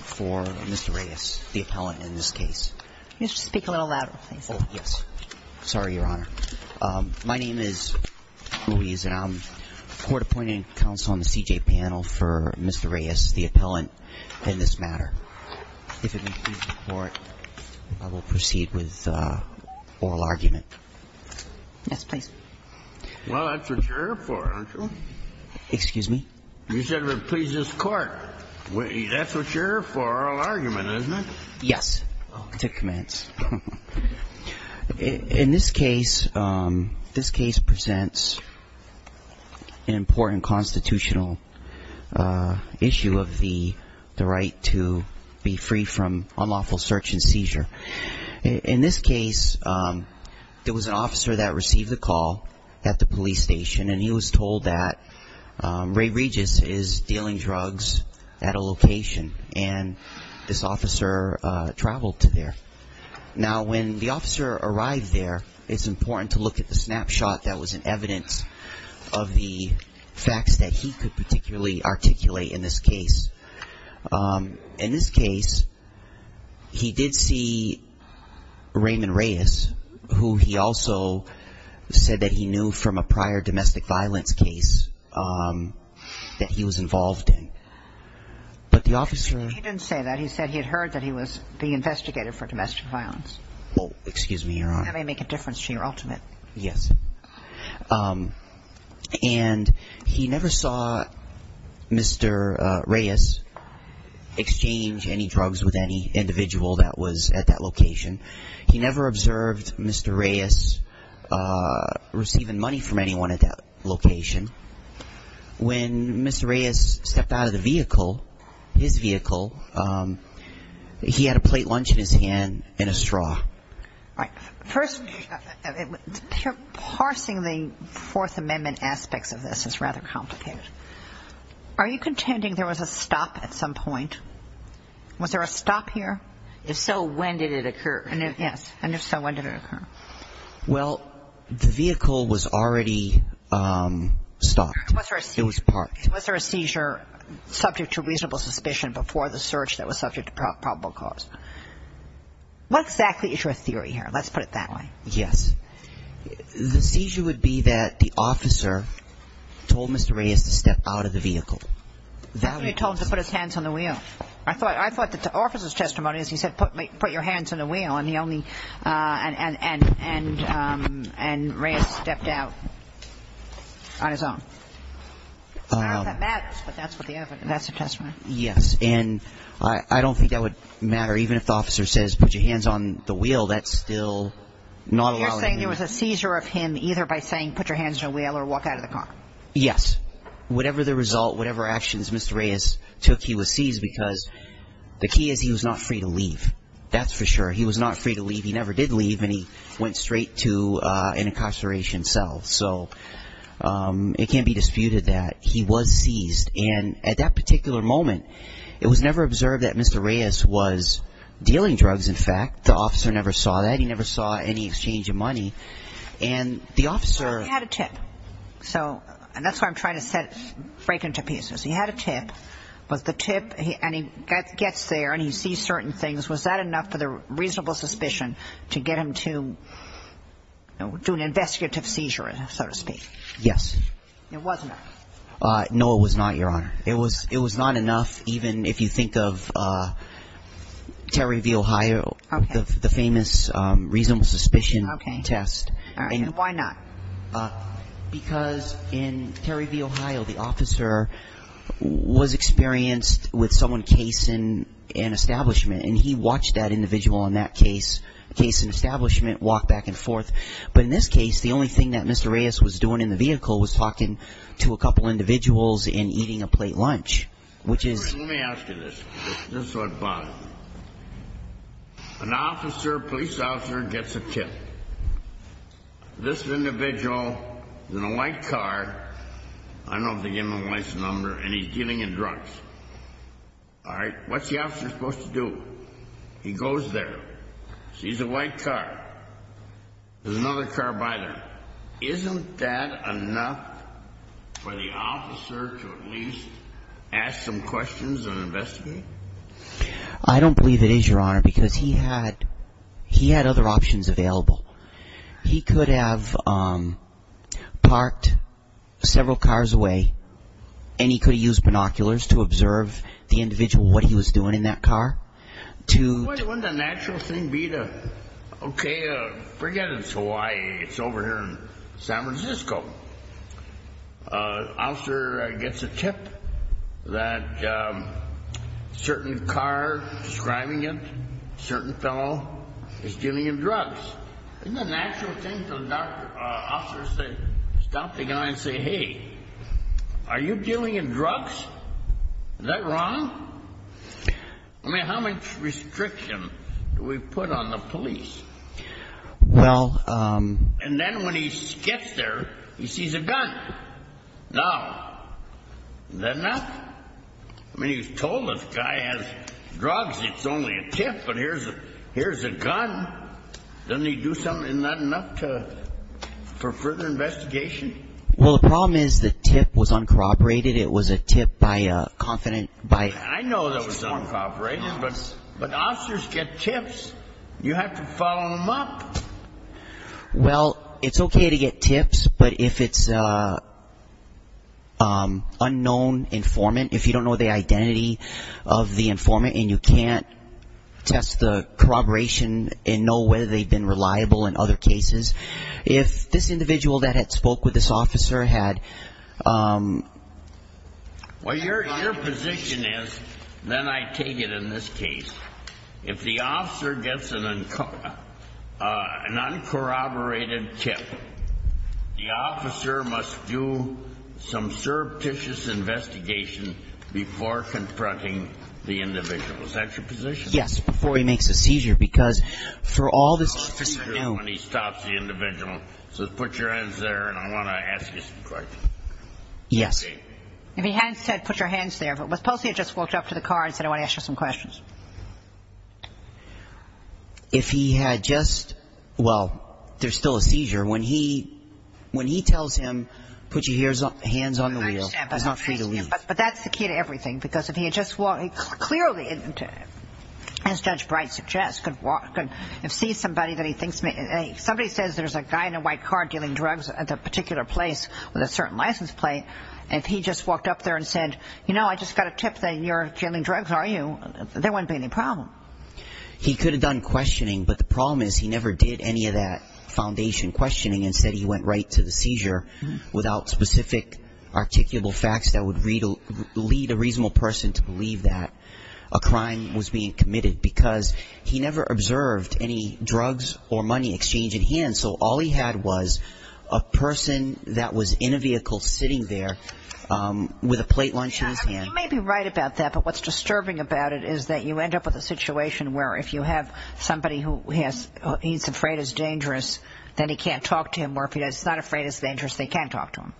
for Mr. Reyes, the appellant, in this case. You need to speak a little louder, please. Oh, yes. Sorry, Your Honor. My name is Luis, and I'm court-appointed counsel on the C.J. panel for Mr. Reyes, the appellant, in this matter. If it pleases the Court, I will proceed with oral argument. Yes, please. Well, that's what you're here for, aren't you? Excuse me? You said, if it pleases the Court. That's what you're here for, oral argument, isn't it? Yes. I'll take commands. In this case, this case presents an important constitutional issue of the right to be free from unlawful search and seizure. In this case, there was an officer that received a call at the police station, and he was told that Ray Regis is dealing drugs at a location, and this officer traveled to there. Now, when the officer arrived there, it's important to look at the snapshot that was in evidence of the facts that he could particularly articulate in this case. In this case, he did see Raymond Reyes, who he also said that he knew from a prior domestic violence case that he was involved in. But the officer He didn't say that. He said he had heard that he was the investigator for domestic violence. Oh, excuse me, Your Honor. That may make a difference to your ultimate. Yes. And he never saw Mr. Reyes exchange any drugs with any individual that was at that location. He never observed Mr. Reyes receiving money from anyone at that location. When Mr. Reyes stepped out of the vehicle, his vehicle, he had a plate lunch in his hand and a straw. First, parsing the Fourth Amendment aspects of this is rather complicated. Are you contending there was a stop at some point? Was there a stop here? If so, when did it occur? Yes. And if so, when did it occur? Well, the vehicle was already stopped. It was parked. Was there a seizure subject to reasonable suspicion before the search that was subject to probable cause? What exactly is your theory here? Let's put it that way. Yes. The seizure would be that the officer told Mr. Reyes to step out of the vehicle. That would be possible. He told him to put his hands on the wheel. I thought that the officer's testimony is he said, put your hands on the wheel, and he only And Reyes stepped out on his own. I don't know if that matters, but that's the evidence. That's the testimony. Yes. And I don't think that would matter. Even if the officer says, put your hands on the wheel, that's still not allowing it. You're saying there was a seizure of him either by saying, put your hands on the wheel or walk out of the car. Yes. Whatever the result, whatever actions Mr. Reyes took, he was seized because the key is he was not free to leave. That's for sure. He was not free to leave. He never did leave, and he went straight to an incarceration cell. So it can't be disputed that he was seized. And at that particular moment, it was never observed that Mr. Reyes was dealing drugs, in fact. The officer never saw that. He never saw any exchange of money. Well, he had a tip. And that's what I'm trying to break into pieces. He had a tip, but the tip, and he gets there, and he sees certain things. Was that enough for the reasonable suspicion to get him to do an investigative seizure, so to speak? Yes. It wasn't. No, it was not, Your Honor. It was not enough, even if you think of Terry v. Ohio, the famous reasonable suspicion test. Why not? Because in Terry v. Ohio, the officer was experienced with someone casing an establishment, and he watched that individual in that casing establishment walk back and forth. But in this case, the only thing that Mr. Reyes was doing in the vehicle was talking to a couple individuals and eating a plate lunch, which is... Let me ask you this. This is what bothered me. An officer, police officer, gets a tip. This individual is in a white car. I don't know if they gave him a license number, and he's dealing in drugs. All right? What's the officer supposed to do? He goes there. She's a white car. There's another car by there. Isn't that enough for the officer to at least ask some questions and investigate? I don't believe it is, Your Honor, because he had other options available. He could have parked several cars away, and he could have used binoculars to observe the individual, what he was doing in that car. Wouldn't the natural thing be to, okay, forget it's Hawaii. It's over here in San Francisco. The officer gets a tip that a certain car, describing it, a certain fellow is dealing in drugs. Isn't it a natural thing for the officer to stop the guy and say, Hey, are you dealing in drugs? Is that wrong? I mean, how much restriction do we put on the police? Well. And then when he gets there, he sees a gun. Now, isn't that enough? I mean, he was told this guy has drugs. It's only a tip, but here's a gun. Doesn't he do something, isn't that enough for further investigation? Well, the problem is the tip was uncorroborated. It was a tip by a confidant. I know that was uncorroborated, but officers get tips. You have to follow them up. Well, it's okay to get tips, but if it's an unknown informant, if you don't know the identity of the informant and you can't test the corroboration and know whether they've been reliable in other cases, if this individual that had spoke with this officer had... Well, your position is, then I take it in this case, if the officer gets an uncorroborated tip, the officer must do some surreptitious investigation before confronting the individual. Is that your position? Yes, before he makes a seizure, because for all this... So put your hands there, and I want to ask you some questions. Yes. If he hadn't said put your hands there, but suppose he had just walked up to the car and said I want to ask you some questions. If he had just... Well, there's still a seizure. When he tells him put your hands on the wheel, he's not free to leave. But that's the key to everything, because if he had just... Clearly, as Judge Bright suggests, if somebody says there's a guy in a white car dealing drugs at a particular place with a certain license plate, if he just walked up there and said, you know, I just got a tip that you're dealing drugs, aren't you, there wouldn't be any problem. He could have done questioning, but the problem is he never did any of that foundation questioning and said he went right to the seizure without specific articulable facts that would lead a reasonable person to believe that a crime was being committed, because he never observed any drugs or money exchange in hand. So all he had was a person that was in a vehicle sitting there with a plate lunch in his hand. You may be right about that, but what's disturbing about it is that you end up with a situation where if you have somebody who he's afraid is dangerous, then he can't talk to him, or if he's not afraid it's dangerous, they can't talk to him.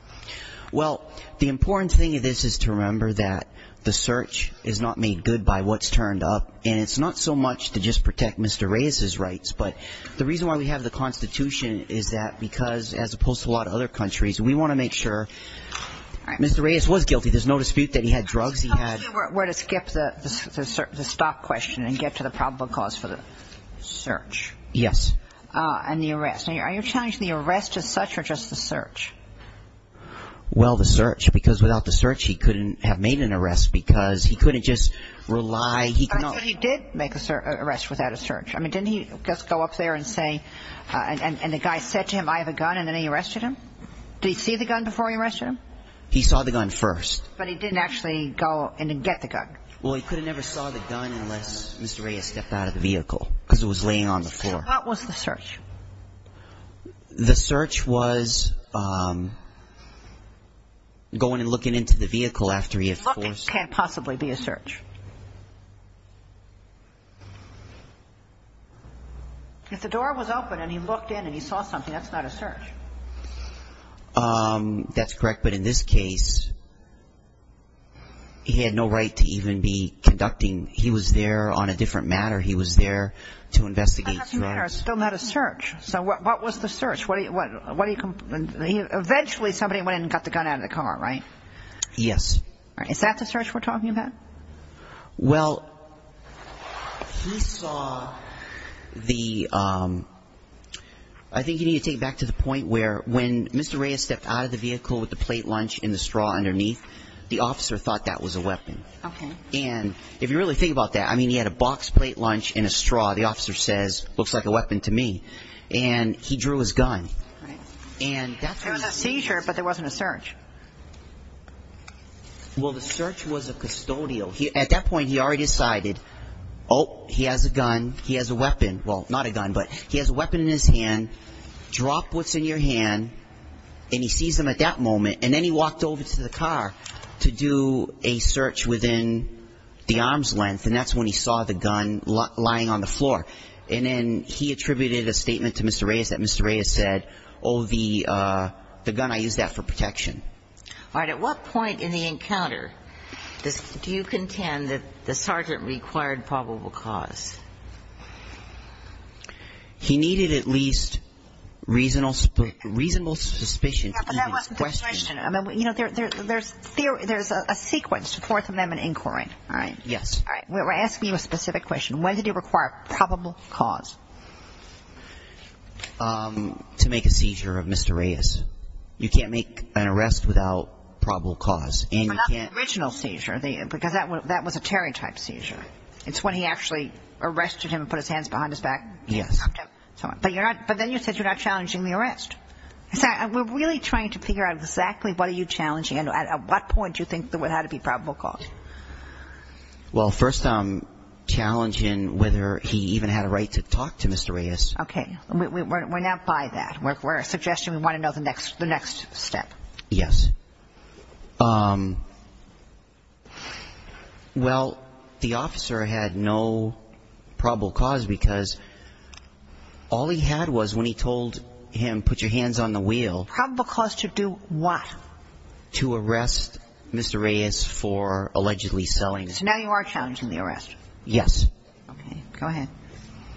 Well, the important thing of this is to remember that the search is not made good by what's turned up, and it's not so much to just protect Mr. Reyes's rights, but the reason why we have the Constitution is that because, as opposed to a lot of other countries, we want to make sure Mr. Reyes was guilty. There's no dispute that he had drugs. He had to skip the stop question and get to the probable cause for the search. Yes. And the arrest. Are you challenging the arrest as such or just the search? Well, the search, because without the search he couldn't have made an arrest because he couldn't just rely. He did make an arrest without a search. Didn't he just go up there and say, and the guy said to him, I have a gun, and then he arrested him? Did he see the gun before he arrested him? He saw the gun first. But he didn't actually go and get the gun. Well, he could have never saw the gun unless Mr. Reyes stepped out of the vehicle because it was laying on the floor. What was the search? The search was going and looking into the vehicle after he had forced. Looking can't possibly be a search. If the door was open and he looked in and he saw something, that's not a search. That's correct. But in this case, he had no right to even be conducting. He was there on a different matter. He was there to investigate drugs. He was there on a different matter. It's still not a search. So what was the search? Eventually somebody went in and got the gun out of the car, right? Yes. Is that the search we're talking about? Well, he saw the ‑‑ I think you need to take it back to the point where when Mr. Reyes stepped out of the vehicle with the plate lunch and the straw underneath, the officer thought that was a weapon. Okay. And if you really think about that, I mean, he had a box plate lunch and a straw. The officer says, looks like a weapon to me. And he drew his gun. Right. And that's when he ‑‑ It was a seizure, but there wasn't a search. Well, the search was a custodial. At that point, he already decided, oh, he has a gun, he has a weapon. Well, not a gun, but he has a weapon in his hand. Drop what's in your hand. And he sees them at that moment. And then he walked over to the car to do a search within the arm's length, and that's when he saw the gun lying on the floor. And then he attributed a statement to Mr. Reyes that Mr. Reyes said, oh, the gun, I used that for protection. All right. At what point in the encounter do you contend that the sergeant required probable cause? He needed at least reasonable suspicion. Yeah, but that wasn't the question. You know, there's a sequence to fourth amendment inquiry. All right. Yes. All right. We're asking you a specific question. When did he require probable cause? To make a seizure of Mr. Reyes. You can't make an arrest without probable cause. Not the original seizure, because that was a Terry-type seizure. It's when he actually arrested him and put his hands behind his back. Yes. But then you said you're not challenging the arrest. We're really trying to figure out exactly what are you challenging and at what point do you think there would have to be probable cause? Well, first I'm challenging whether he even had a right to talk to Mr. Reyes. Okay. We're not by that. We're suggesting we want to know the next step. Yes. Well, the officer had no probable cause, because all he had was when he told him put your hands on the wheel. Probable cause to do what? To arrest Mr. Reyes for allegedly selling. So now you are challenging the arrest. Yes. Okay. Go ahead.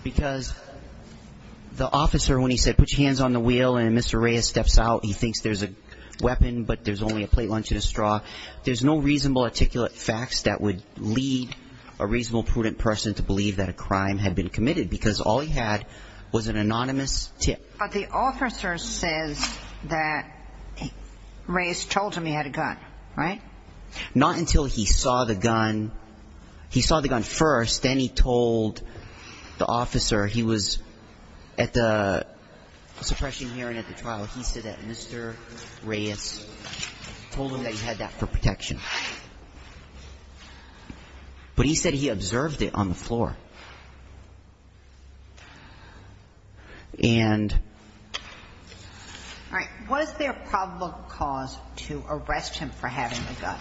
Because the officer, when he said put your hands on the wheel and Mr. Reyes steps out, he thinks there's a weapon, but there's only a plate, lunch, and a straw. There's no reasonable articulate facts that would lead a reasonable prudent person to believe that a crime had been committed, because all he had was an anonymous tip. But the officer says that Reyes told him he had a gun, right? Not until he saw the gun. He saw the gun first. Then he told the officer he was at the suppression hearing at the trial. He said that Mr. Reyes told him that he had that for protection. But he said he observed it on the floor. And... All right. Was there probable cause to arrest him for having the gun?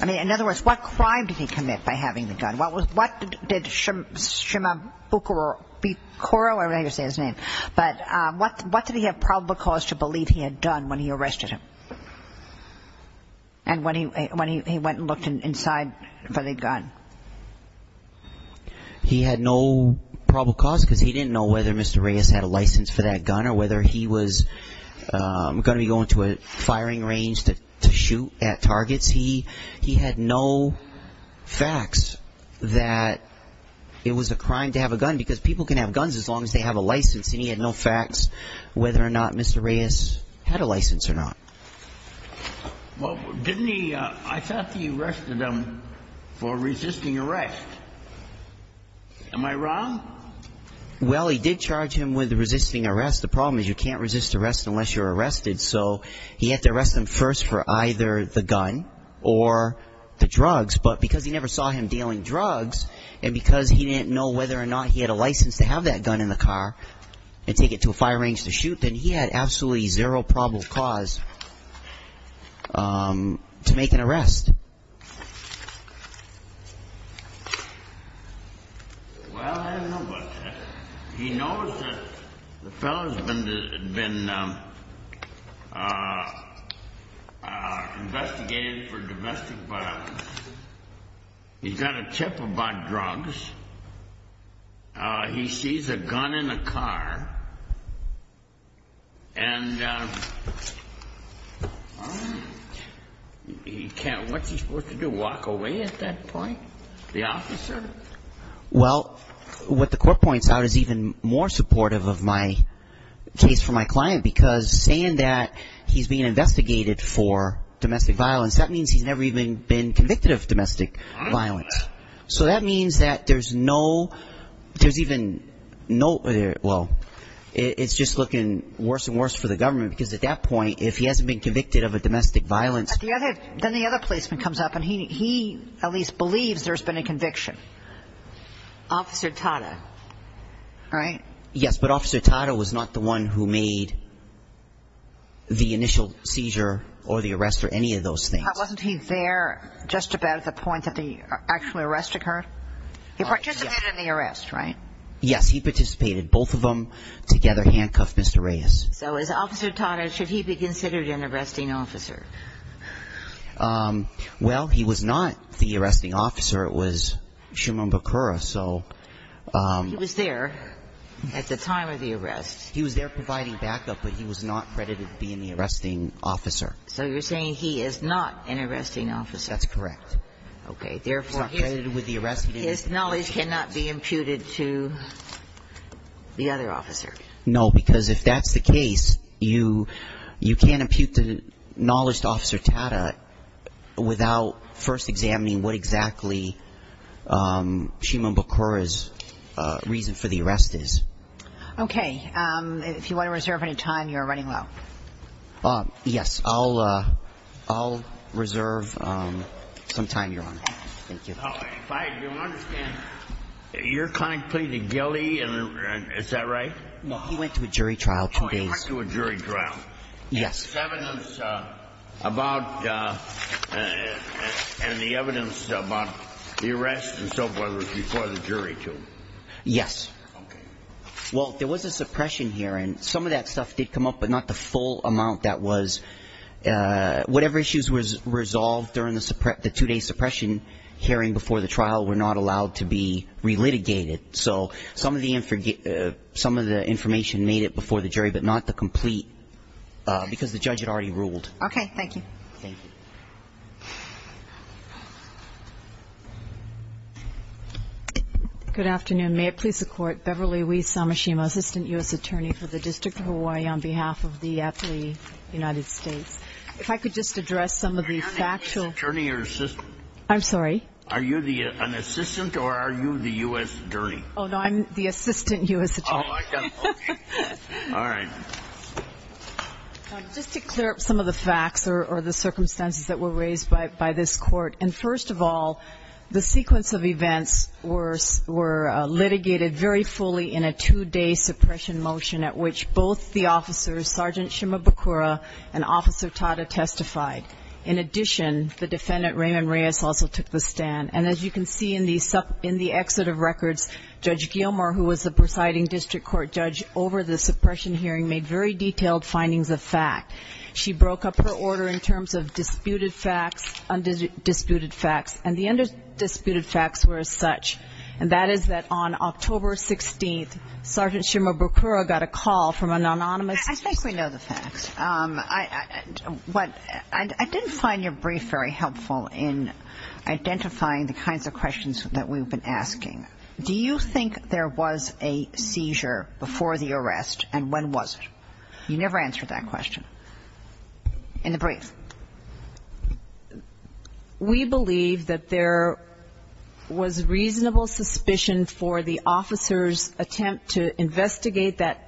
I mean, in other words, what crime did he commit by having the gun? What did Shimabukuro, I'm not going to say his name, but what did he have probable cause to believe he had done when he arrested him and when he went and looked inside for the gun? He had no probable cause, because he didn't know whether Mr. Reyes had a license for that gun or whether he was going to be going to a firing range to shoot at targets. He had no facts that it was a crime to have a gun, because people can have guns as long as they have a license. And he had no facts whether or not Mr. Reyes had a license or not. Well, didn't he, I thought he arrested him for resisting arrest. Am I wrong? Well, he did charge him with resisting arrest. The problem is you can't resist arrest unless you're arrested. So he had to arrest him first for either the gun or the drugs. But because he never saw him dealing drugs and because he didn't know whether or not he had a license to have that gun in the car and take it to a firing range to shoot, then he had absolutely zero probable cause to make an arrest. Well, I don't know about that. He knows that the fellow's been investigated for domestic violence. He's got a chip about drugs. He sees a gun in a car and he can't, what's he supposed to do, walk away at that point? The officer? Well, what the court points out is even more supportive of my case for my client, because saying that he's been investigated for domestic violence, that means he's never even been convicted of domestic violence. So that means that there's no, there's even no, well, it's just looking worse and worse for the government, because at that point if he hasn't been convicted of a domestic violence. Then the other policeman comes up and he at least believes there's been a conviction. Officer Tata, right? Yes, but Officer Tata was not the one who made the initial seizure or the arrest or any of those things. Wasn't he there just about at the point that the actual arrest occurred? He participated in the arrest, right? Yes, he participated. Both of them together handcuffed Mr. Reyes. So is Officer Tata, should he be considered an arresting officer? Well, he was not the arresting officer. It was Shimon Bakura, so. He was there at the time of the arrest. He was there providing backup, but he was not credited being the arresting officer. So you're saying he is not an arresting officer. That's correct. Okay. Therefore, his knowledge cannot be imputed to the other officer. No, because if that's the case, you can't impute the knowledge to Officer Tata without first examining what exactly Shimon Bakura's reason for the arrest is. Okay. If you want to reserve any time, you're running low. Yes, I'll reserve some time, Your Honor. Thank you. If I do understand, your client pleaded guilty, is that right? No, he went to a jury trial two days. Oh, he went to a jury trial. Yes. And the evidence about the arrest and so forth was before the jury too? Yes. Okay. Well, there was a suppression hearing. Some of that stuff did come up, but not the full amount that was. Whatever issues were resolved during the two-day suppression hearing before the trial were not allowed to be relitigated. So some of the information made it before the jury, but not the complete, because the judge had already ruled. Okay. Thank you. Thank you. Good afternoon. May it please the Court, Beverly Lee Samashima, Assistant U.S. Attorney for the District of Hawaii, on behalf of the athlete United States. If I could just address some of the factual. Are you an U.S. attorney or assistant? I'm sorry? Are you an assistant or are you the U.S. attorney? Oh, no, I'm the assistant U.S. attorney. Oh, I got it. Okay. All right. Just to clear up some of the facts or the circumstances that were raised by this court, and first of all, the sequence of events were litigated very fully in a two-day suppression motion at which both the officers, Sergeant Shimabukura and Officer Tada, testified. In addition, the defendant, Raymond Reyes, also took the stand. And as you can see in the exit of records, Judge Gilmore, who was the presiding district court judge over the suppression hearing, made very detailed findings of fact. She broke up her order in terms of disputed facts, undisputed facts, and the undisputed facts were as such, and that is that on October 16th, Sergeant Shimabukura got a call from an anonymous assistant. I think we know the facts. I didn't find your brief very helpful in identifying the kinds of questions that we've been asking. Do you think there was a seizure before the arrest, and when was it? You never answered that question in the brief. We believe that there was reasonable suspicion for the officer's attempt to investigate that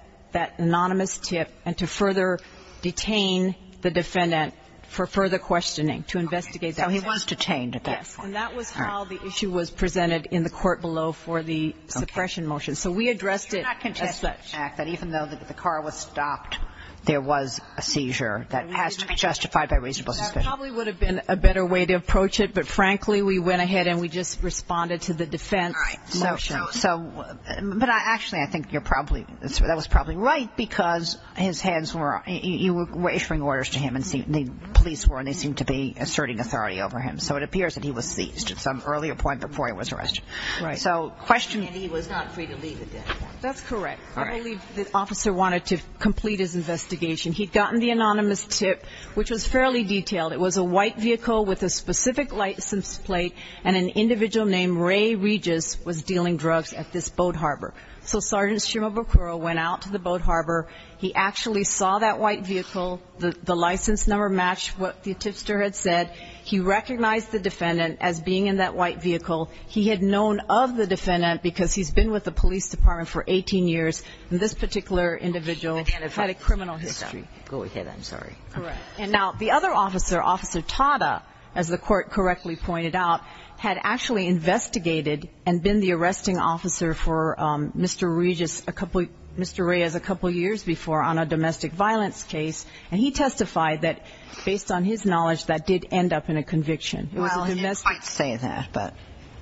anonymous tip and to further detain the defendant for further questioning, to investigate that tip. So he was detained at that point. Yes, and that was how the issue was presented in the court below for the suppression motion. So we addressed it as such. I believe that there was an act that even though the car was stopped, there was a seizure that has to be justified by reasonable suspicion. That probably would have been a better way to approach it, but frankly we went ahead and we just responded to the defense motion. All right. So, but actually I think you're probably, that was probably right because his hands were, you were issuing orders to him and the police were, and they seemed to be asserting authority over him. So it appears that he was seized at some earlier point before he was arrested. Right. So question. And he was not free to leave at that point. That's correct. All right. I believe the officer wanted to complete his investigation. He'd gotten the anonymous tip, which was fairly detailed. It was a white vehicle with a specific license plate and an individual named Ray Regis was dealing drugs at this boat harbor. So Sergeant Shimabukuro went out to the boat harbor. He actually saw that white vehicle. The license number matched what the tipster had said. He recognized the defendant as being in that white vehicle. He had known of the defendant because he's been with the police department for 18 years, and this particular individual had a criminal history. Go ahead. I'm sorry. All right. And now the other officer, Officer Tada, as the court correctly pointed out, had actually investigated and been the arresting officer for Mr. Regis a couple, Mr. Reyes a couple years before on a domestic violence case, and he testified that based on his knowledge that did end up in a conviction. Well, he didn't quite say that, but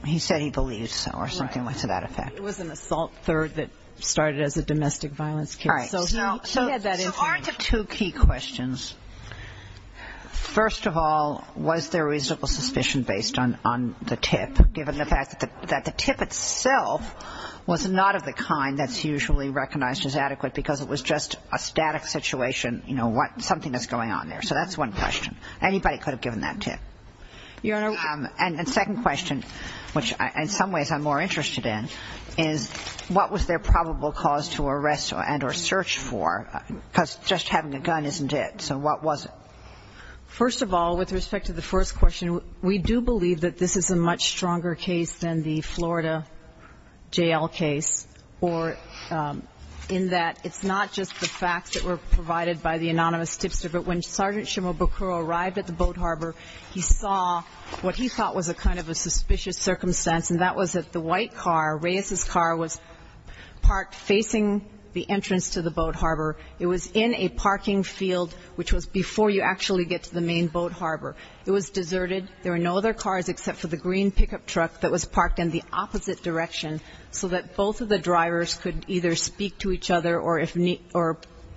he said he believed so or something to that effect. It was an assault third that started as a domestic violence case. All right. So he had that information. So onto two key questions. First of all, was there reasonable suspicion based on the tip, given the fact that the tip itself was not of the kind that's usually recognized as adequate because it was just a static situation, you know, something that's going on there. So that's one question. Anybody could have given that tip. Your Honor. And the second question, which in some ways I'm more interested in, is what was their probable cause to arrest and or search for because just having a gun isn't it. So what was it? First of all, with respect to the first question, we do believe that this is a much stronger case than the Florida jail case, or in that it's not just the facts that were provided by the anonymous tipster, but when Sergeant Shimabukuro arrived at the boat harbor, he saw what he thought was a kind of a suspicious circumstance, and that was that the white car, Reyes's car, was parked facing the entrance to the boat harbor. It was in a parking field, which was before you actually get to the main boat harbor. It was deserted. There were no other cars except for the green pickup truck that was parked in the opposite direction so that both of the drivers could either speak to each other or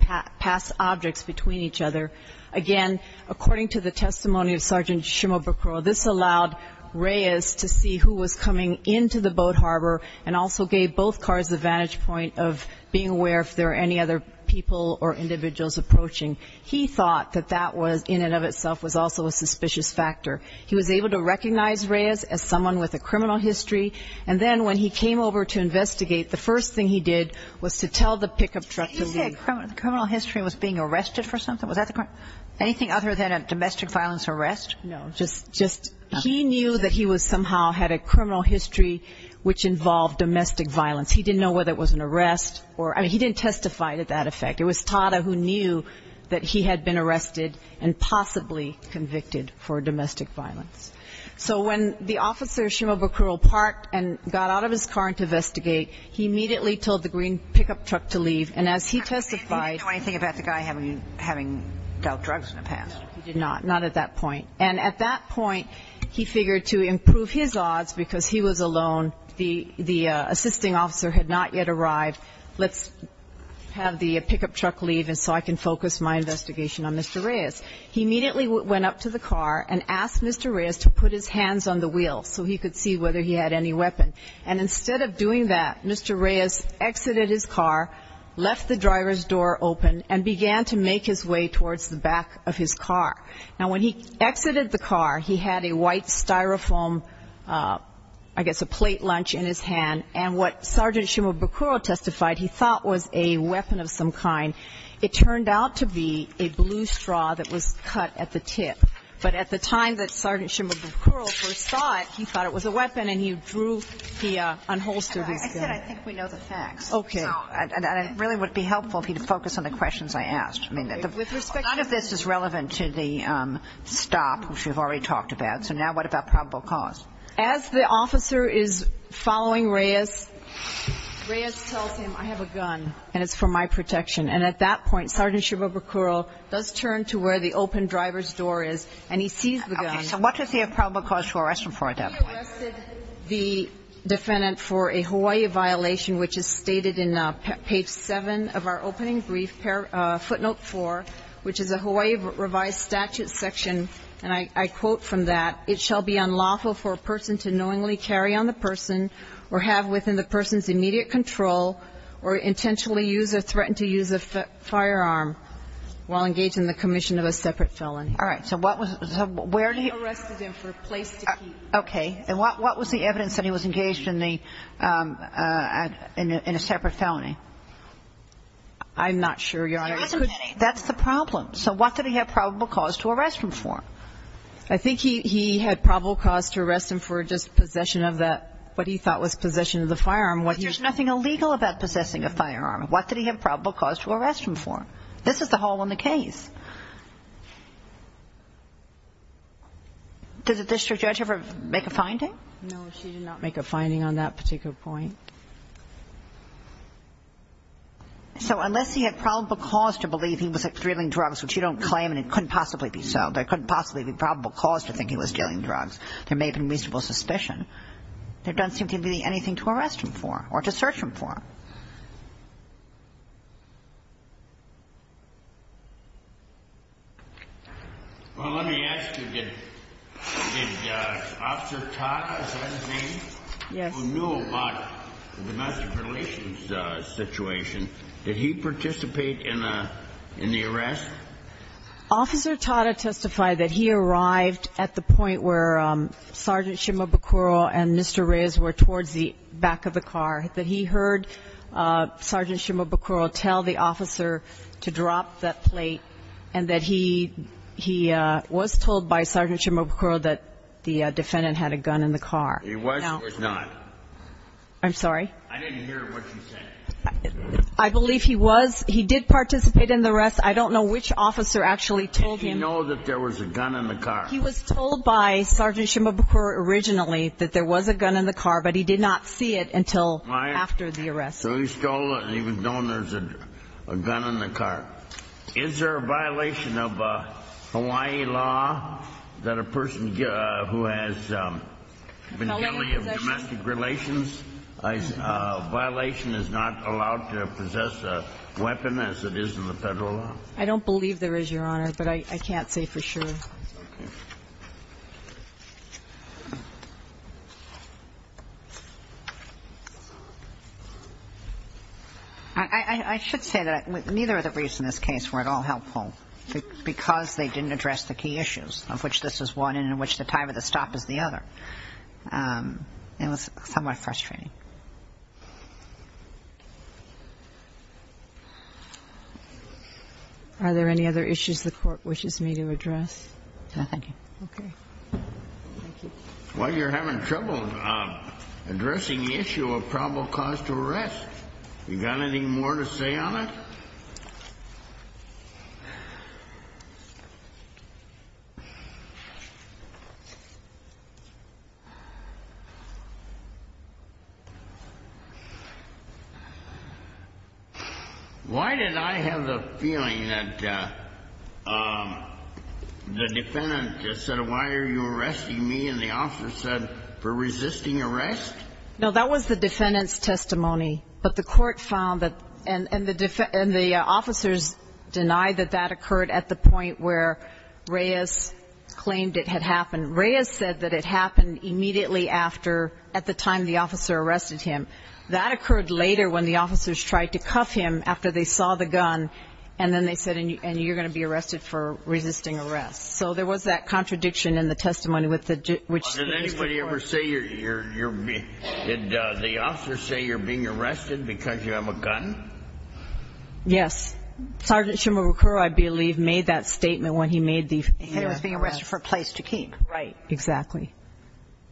pass objects between each other. Again, according to the testimony of Sergeant Shimabukuro, this allowed Reyes to see who was coming into the boat harbor and also gave both cars the vantage point of being aware if there were any other people or individuals approaching. He thought that that was, in and of itself, was also a suspicious factor. He was able to recognize Reyes as someone with a criminal history, and then when he came over to investigate, the first thing he did was to tell the pickup truck to leave. Did he say a criminal history and was being arrested for something? Anything other than a domestic violence arrest? No, just he knew that he somehow had a criminal history which involved domestic violence. He didn't know whether it was an arrest. I mean, he didn't testify to that effect. It was Tada who knew that he had been arrested and possibly convicted for domestic violence. So when the officer Shimabukuro parked and got out of his car to investigate, he immediately told the green pickup truck to leave, and as he testified. He didn't know anything about the guy having dealt drugs in the past? He did not, not at that point. And at that point, he figured to improve his odds because he was alone, the assisting officer had not yet arrived, let's have the pickup truck leave so I can focus my investigation on Mr. Reyes. He immediately went up to the car and asked Mr. Reyes to put his hands on the wheel so he could see whether he had any weapon. And instead of doing that, Mr. Reyes exited his car, left the driver's door open, and began to make his way towards the back of his car. Now, when he exited the car, he had a white Styrofoam, I guess a plate lunch in his hand, and what Sergeant Shimabukuro testified he thought was a weapon of some kind. It turned out to be a blue straw that was cut at the tip. But at the time that Sergeant Shimabukuro first saw it, he thought it was a weapon, and he drew, he unholstered his gun. I said I think we know the facts. Okay. And it really would be helpful if you could focus on the questions I asked. I mean, none of this is relevant to the stop, which we've already talked about, so now what about probable cause? As the officer is following Reyes, Reyes tells him, I have a gun, and it's for my protection. And at that point, Sergeant Shimabukuro does turn to where the open driver's door is, and he sees the gun. Okay. So what does he have probable cause for arresting for it at that point? He arrested the defendant for a Hawaii violation, which is stated in page 7 of our opening brief, footnote 4, which is a Hawaii revised statute section, and I quote from that, it shall be unlawful for a person to knowingly carry on the person or have within the person's immediate control or intentionally use or threaten to use a firearm while engaged in the commission of a separate felony. All right. So what was the ‑‑ He arrested him for a place to keep. Okay. And what was the evidence that he was engaged in a separate felony? I'm not sure Your Honor. That's the problem. So what did he have probable cause to arrest him for? I think he had probable cause to arrest him for just possession of that, what he thought was possession of the firearm. But there's nothing illegal about possessing a firearm. What did he have probable cause to arrest him for? This is the hole in the case. Did the district judge ever make a finding? No, she did not make a finding on that particular point. So unless he had probable cause to believe he was, like, there may possibly be probable cause to think he was dealing drugs. There may have been reasonable suspicion. There doesn't seem to be anything to arrest him for or to search him for. Well, let me ask you, did Officer Tada, is that his name? Yes. Who knew about the domestic relations situation, did he participate in the arrest? Officer Tada testified that he arrived at the point where Sergeant Shimabukuro and Mr. Reyes were towards the back of the car, that he heard Sergeant Shimabukuro tell the officer to drop that plate and that he was told by Sergeant Shimabukuro that the defendant had a gun in the car. He was or was not? I'm sorry? I didn't hear what you said. I believe he was, he did participate in the arrest. I don't know which officer actually told him. Did he know that there was a gun in the car? He was told by Sergeant Shimabukuro originally that there was a gun in the car, but he did not see it until after the arrest. So he stole it and he was known there was a gun in the car. Is there a violation of Hawaii law that a person who has been guilty of domestic relations, a violation is not allowed to possess a weapon as it is in the federal law? I don't believe there is, Your Honor, but I can't say for sure. Okay. I should say that neither of the briefs in this case were at all helpful because they didn't address the key issues of which this is one and in which the time of the stop is the other. It was somewhat frustrating. Are there any other issues the Court wishes me to address? No, thank you. Okay. Thank you. Well, you're having trouble addressing the issue of probable cause to arrest. You got anything more to say on it? No. Why did I have the feeling that the defendant said, why are you arresting me, and the officer said, for resisting arrest? No, that was the defendant's testimony, but the Court found that, and the officers denied that that occurred at the point where Reyes claimed it had happened. Reyes said that it happened immediately after, at the time the officer arrested him. That occurred later when the officers tried to cuff him after they saw the gun, and then they said, and you're going to be arrested for resisting arrest. So there was that contradiction in the testimony. Did the officers say you're being arrested because you have a gun? Yes. Sergeant Shimabukuro, I believe, made that statement when he made the arrest. Right. Exactly.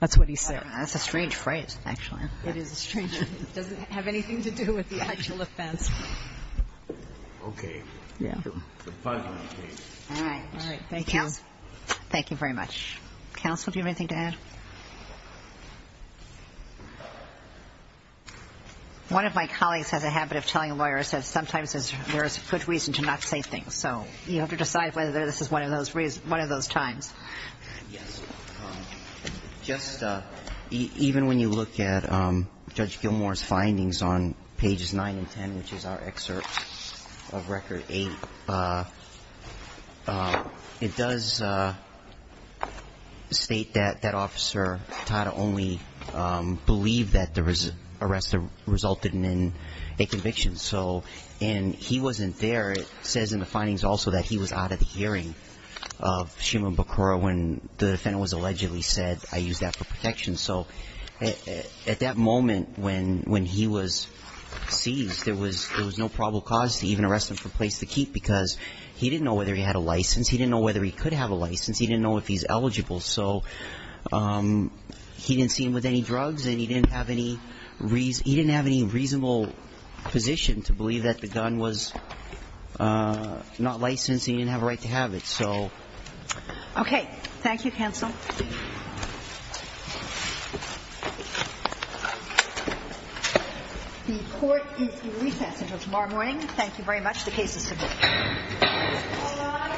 That's what he said. That's a strange phrase, actually. It is a strange one. It doesn't have anything to do with the actual offense. Okay. Yeah. The final case. All right. All right. Thank you. Thank you very much. Counsel, do you have anything to add? One of my colleagues has a habit of telling lawyers that sometimes there is a good reason to not say things. So you have to decide whether this is one of those times. Yes. Just even when you look at Judge Gilmour's findings on pages 9 and 10, which is our excerpt of Record 8, it does state that that officer, Tata, only believed that the arrest resulted in a conviction. And he wasn't there. It says in the findings also that he was out of the hearing of Shimabukuro when the defendant was allegedly said, I used that for protection. So at that moment when he was seized, there was no probable cause to even arrest him for place to keep because he didn't know whether he had a license. He didn't know whether he could have a license. He didn't know if he's eligible. So he didn't see him with any drugs and he didn't have any reasonable position to believe that the gun was not licensed and he didn't have a right to have it. So. Okay. Thank you, counsel. The court is recessed until tomorrow morning. Thank you very much. The case is submitted. All rise. Thank you.